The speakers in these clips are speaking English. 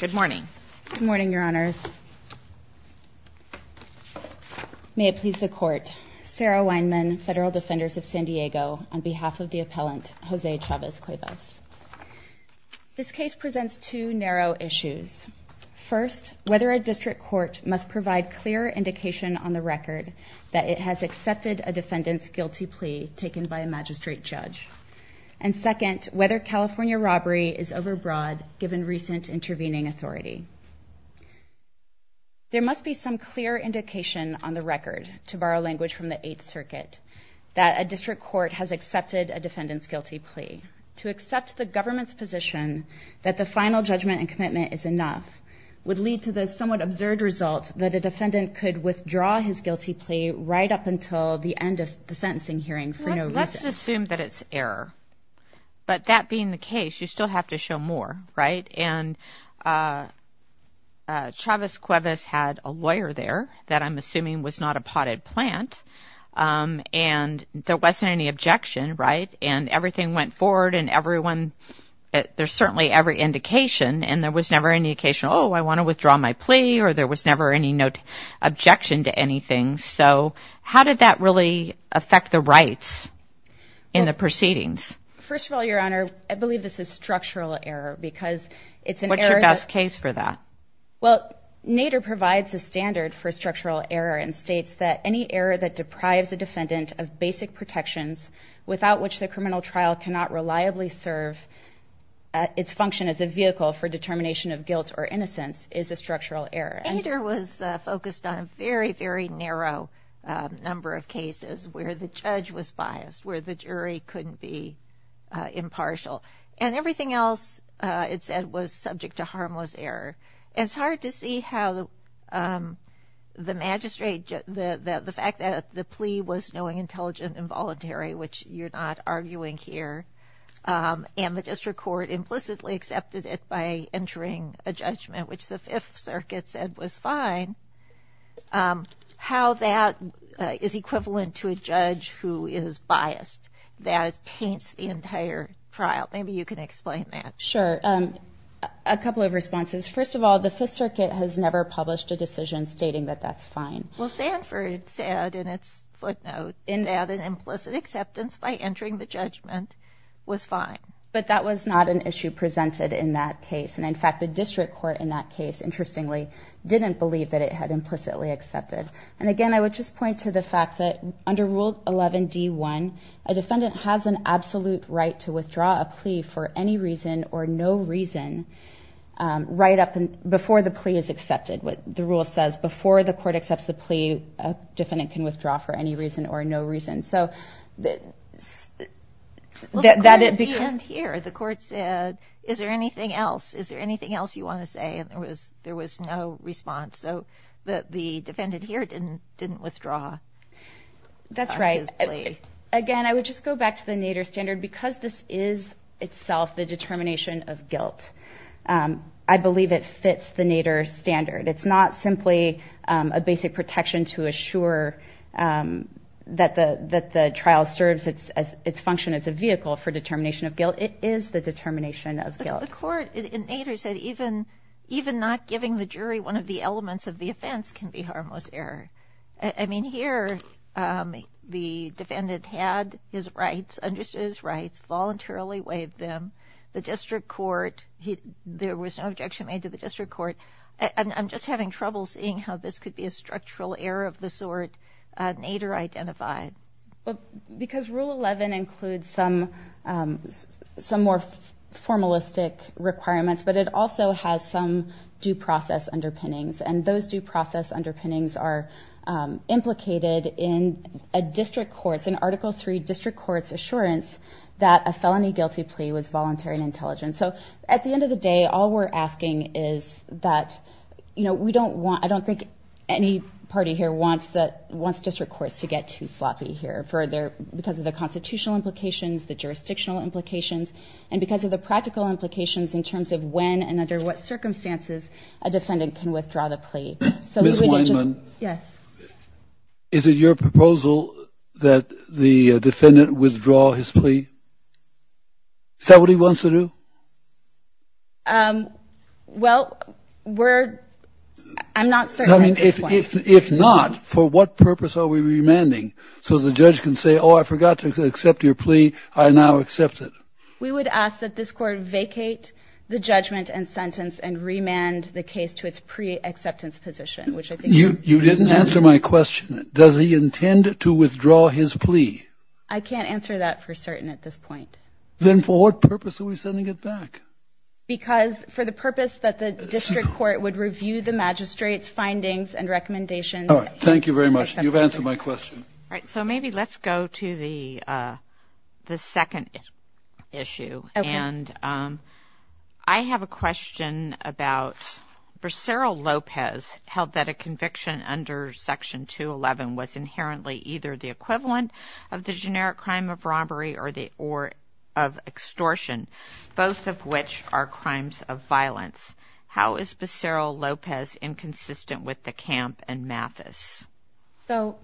Good morning. Good morning, Your Honors. May it please the Court, Sarah Weinman, Federal Defenders of San Diego, on behalf of the appellant Jose Chavez-Cuevas. This case presents two narrow issues. First, whether a district court must provide clear indication on the record that it has accepted a defendant's guilty plea taken by a magistrate judge. And second, whether California robbery is overbroad given recent intervening authority. There must be some clear indication on the record, to borrow language from the Eighth Circuit, that a district court has accepted a defendant's guilty plea. To accept the government's position that the final judgment and commitment is enough would lead to the somewhat absurd result that a defendant could withdraw his guilty plea right up until the end of the sentencing hearing for no reason. Let's assume that it's error. But that being the case, you still have to show more, right? And Chavez-Cuevas had a lawyer there that I'm assuming was not a potted plant. And there wasn't any objection, right? And everything went forward and everyone, there's certainly every indication and there was never any indication, oh, I want to withdraw my plea or there was never any objection to anything. So how did that really affect the rights in the proceedings? First of all, Your Honor, I believe this is structural error because it's an error that... What's your best case for that? Well, Nader provides a standard for structural error and states that any error that deprives a defendant of basic protections without which the criminal trial cannot reliably serve its function as a vehicle for determination of guilt or innocence is a structural error. Nader was focused on a very, very narrow number of cases where the judge was biased, where the jury couldn't be impartial. And everything else, it said, was subject to harmless error. And it's hard to see how the magistrate, the fact that the plea was knowing, intelligent, involuntary, which you're not arguing here, and the district court implicitly accepted it by entering a judgment, which the Fifth Circuit said was fine, how that is equivalent to a judge who is biased. That taints the entire trial. Maybe you can explain that. Sure. A couple of responses. First of all, the Fifth Circuit has never published a decision stating that that's fine. Well, Sanford said in its footnote that an implicit acceptance by entering the judgment was fine. But that was not an issue presented in that case. And in fact, the district court in that case, interestingly, didn't believe that it had implicitly accepted. And again, I would just point to the fact that under Rule 11-D-1, a defendant has an absolute right to withdraw a plea for any reason or no reason, right up before the plea is accepted. The rule says before the court accepts the plea, a defendant can withdraw for any reason or no reason. The court said, is there anything else? Is there anything else you want to say? And there was no response. So the defendant here didn't withdraw. That's right. Again, I would just go back to the Nader standard, because this is itself the determination of guilt. I believe it fits the Nader standard. It's not simply a basic protection to assure that the trial serves its function as a vehicle for determination of guilt. Well, it is the determination of guilt. The court in Nader said even not giving the jury one of the elements of the offense can be harmless error. I mean, here, the defendant had his rights, understood his rights, voluntarily waived them. The district court, there was no objection made to the district court. I'm just having trouble seeing how this could be a structural error of the sort Nader identified. Because Rule 11 includes some more formalistic requirements, but it also has some due process underpinnings. And those due process underpinnings are implicated in a district court's, in Article 3 district court's assurance that a felony guilty plea was voluntary and intelligent. So at the end of the day, all we're asking is that, you know, we don't want, I don't think any party here wants district courts to get too sloppy here because of the constitutional implications, the jurisdictional implications, and because of the practical implications in terms of when and under what circumstances a defendant can withdraw the plea. Ms. Weinman, is it your proposal that the defendant withdraw his plea? Is that what he wants to do? I mean, if not, for what purpose are we remanding so the judge can say, oh, I forgot to accept your plea, I now accept it? We would ask that this court vacate the judgment and sentence and remand the case to its pre-acceptance position. You didn't answer my question. Does he intend to withdraw his plea? I can't answer that for certain at this point. Then for what purpose are we sending it back? Because for the purpose that the district court would review the magistrate's findings and recommendations. All right. Thank you very much. You've answered my question. All right. So maybe let's go to the second issue. And I have a question about, for Cyril Lopez, held that a conviction under Section 211 was inherently either the equivalent of the generic crime of robbery or the or of extortion, both of which are crimes of violence. How is Cyril Lopez inconsistent with the camp and Mathis? So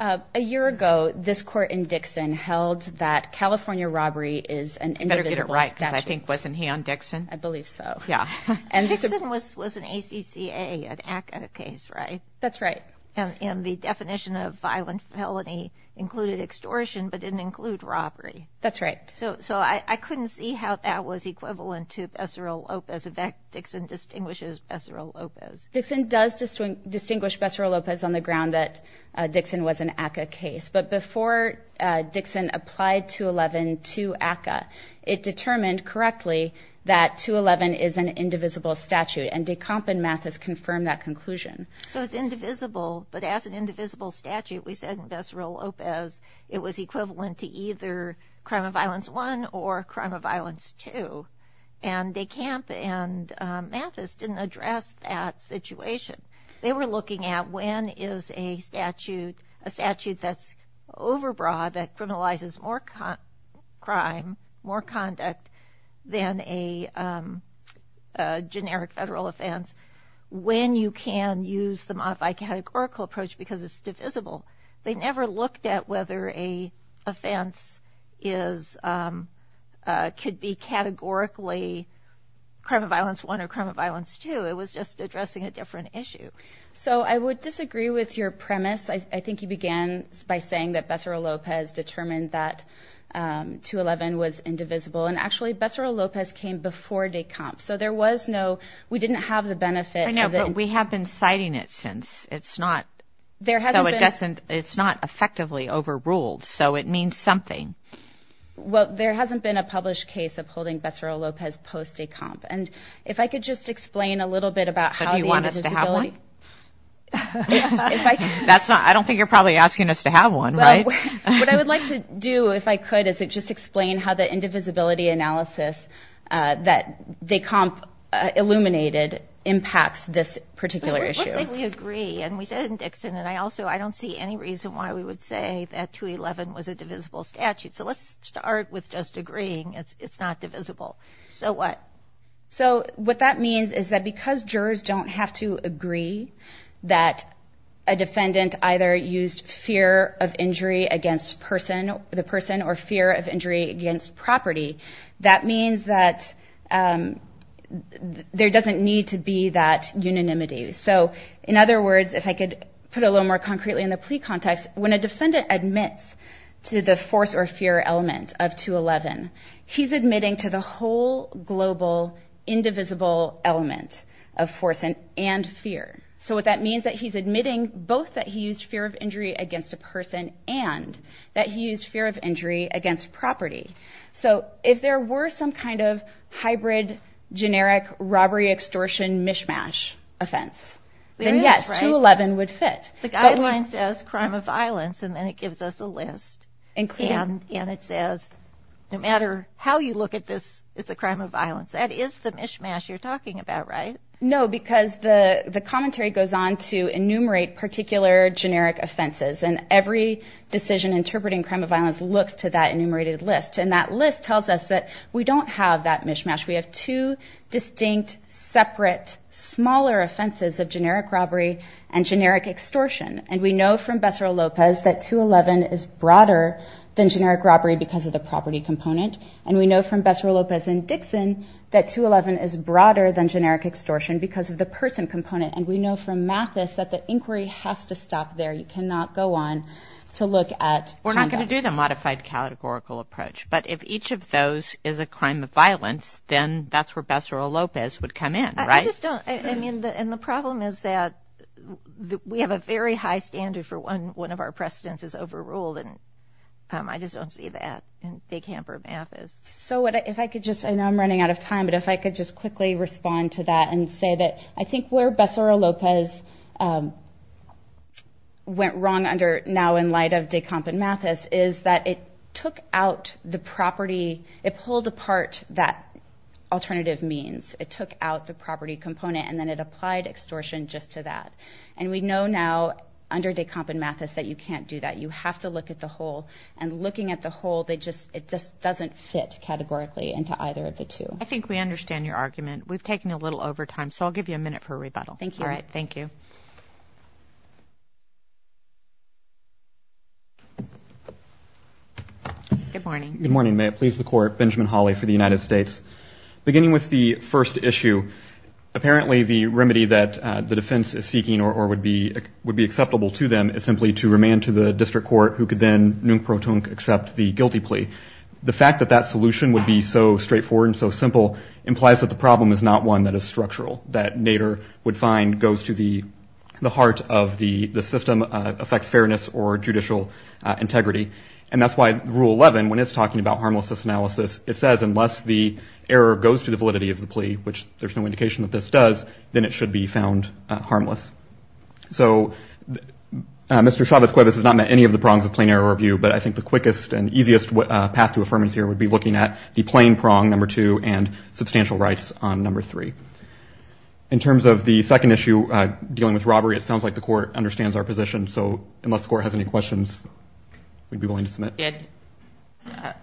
a year ago, this court in Dixon held that California robbery is an indivisible statute. I think wasn't he on Dixon? I believe so. Yeah. And this was an ACCA case, right? That's right. And the definition of violent felony included extortion, but didn't include robbery. That's right. So I couldn't see how that was equivalent to Cyril Lopez. In fact, Dixon distinguishes Cyril Lopez. Dixon does distinguish Cyril Lopez on the ground that Dixon was an ACCA case. But before Dixon applied 211 to ACCA, it determined correctly that 211 is an indivisible statute. And DeCamp and Mathis confirmed that conclusion. So it's indivisible. But as an indivisible statute, we said that Cyril Lopez, it was equivalent to either crime of violence one or crime of violence two. And DeCamp and Mathis didn't address that situation. They were looking at when is a statute that's overbroad, that criminalizes more crime, more conduct than a generic federal offense, when you can use the modified categorical approach because it's divisible. They never looked at whether a offense could be categorically crime of violence one or crime of violence two. It was just addressing a different issue. So I would disagree with your premise. I think you began by saying that Cyril Lopez determined that 211 was indivisible. And actually, Cyril Lopez came before DeCamp. So there was no, we didn't have the benefit. I know, but we have been citing it since. It's not effectively overruled. So it means something. Well, there hasn't been a published case upholding Cyril Lopez post-DeCamp. And if I could just explain a little bit about how the indivisibility... I don't think you're probably asking us to have one, right? What I would like to do, if I could, is just explain how the indivisibility analysis that DeCamp illuminated impacts this particular issue. Let's say we agree, and we said it in Dixon, and I also, I don't see any reason why we would say that 211 was a divisible statute. So let's start with just agreeing it's not divisible. So what? So what that means is that because jurors don't have to agree that a defendant either used fear of injury against the person or fear of injury against property, that means that there doesn't need to be that unanimity. So in other words, if I could put a little more concretely in the plea context, when a defendant admits to the force or fear element of 211, he's admitting to the whole global indivisible element of force and fear. So what that means is that he's admitting both that he used fear of injury against a person and that he used fear of injury against property. So if there were some kind of hybrid generic robbery extortion mishmash offense, then yes, 211 would fit. The guideline says crime of violence, and then it gives us a list. And it says no matter how you look at this, it's a crime of violence. That is the mishmash you're talking about, right? No, because the commentary goes on to enumerate particular generic offenses. And every decision interpreting crime of violence looks to that enumerated list. And that list tells us that we don't have that mishmash. We have two distinct, separate, smaller offenses of generic robbery and generic extortion. And we know from Becerra-Lopez that 211 is broader than generic robbery because of the property component. And we know from Becerra-Lopez and Dixon that 211 is broader than generic extortion because of the person component. And we know from Mathis that the inquiry has to stop there. You cannot go on to look at conduct. We're not going to do the modified categorical approach. But if each of those is a crime of violence, then that's where Becerra-Lopez would come in, right? I just don't. I mean, and the problem is that we have a very high standard for when one of our precedents is overruled. And I just don't see that in Big Ham or Mathis. So if I could just, I know I'm running out of time, but if I could just quickly respond to that and say that I think where Becerra-Lopez went wrong under now in light of Decomp and Mathis is that it took out the property, it pulled apart that alternative means. It took out the property component and then it applied extortion just to that. And we know now under Decomp and Mathis that you can't do that. You have to look at the whole. And looking at the whole, it just doesn't fit categorically into either of the two. I think we understand your argument. We've taken a little over time, so I'll give you a minute for a rebuttal. Thank you. Good morning. May it please the court, Benjamin Hawley for the United States. Beginning with the first issue, apparently the remedy that the defense is seeking or would be acceptable to them is simply to remand to the district court who could then nunc pro tunc accept the guilty plea. The fact that that solution would be so straightforward and so simple implies that the problem is not one that is structural, that Nader would find goes to the heart of the system, affects fairness or judicial integrity. And that's why Rule 11, when it's talking about harmlessness analysis, it says unless the error goes to the validity of the plea, which there's no indication that this does, then it should be found harmless. So Mr. Chavez-Cuevas has not met any of the prongs of plain error review, but I think the quickest and easiest path to affirmance here would be looking at the plain prong, number two, and substantial rights on number three. In terms of the second issue dealing with robbery, it sounds like the court understands our position. So unless the court has any questions, we'd be willing to submit.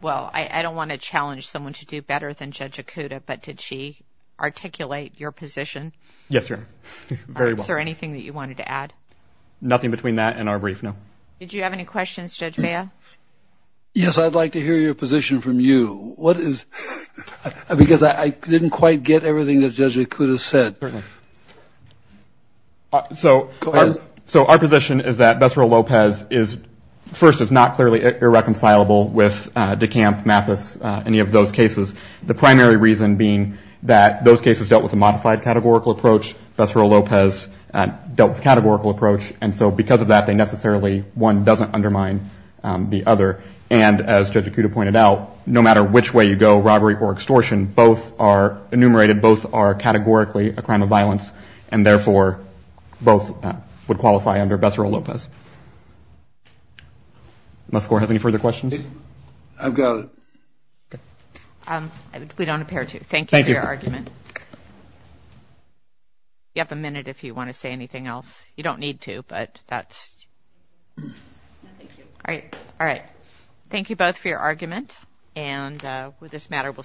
Well, I don't want to challenge someone to do better than Judge Acuda, but did she articulate your position? Yes, sir. Very well. Is there anything that you wanted to add? Nothing between that and our brief, no. Did you have any questions, Judge Baio? Yes, I'd like to hear your position from you. Because I didn't quite get everything that Judge Acuda said. So our position is that Bessarab Lopez first is not clearly irreconcilable with DeKalb, Mathis, any of those cases, the primary reason being that those cases dealt with a modified categorical approach. Bessarab Lopez dealt with a categorical approach. And so because of that, they necessarily, one doesn't undermine the other. And as Judge Acuda pointed out, no matter which way you go, robbery or extortion, both are enumerated, both are categorically a crime of violence, and therefore both would qualify under Bessarab Lopez. Unless the court has any further questions. I've got it. We don't appear to. Thank you for your argument. Thank you. You have a minute if you want to say anything else. You don't need to, but that's. No, thank you. All right. Thank you both for your argument. And with this matter, we'll stand.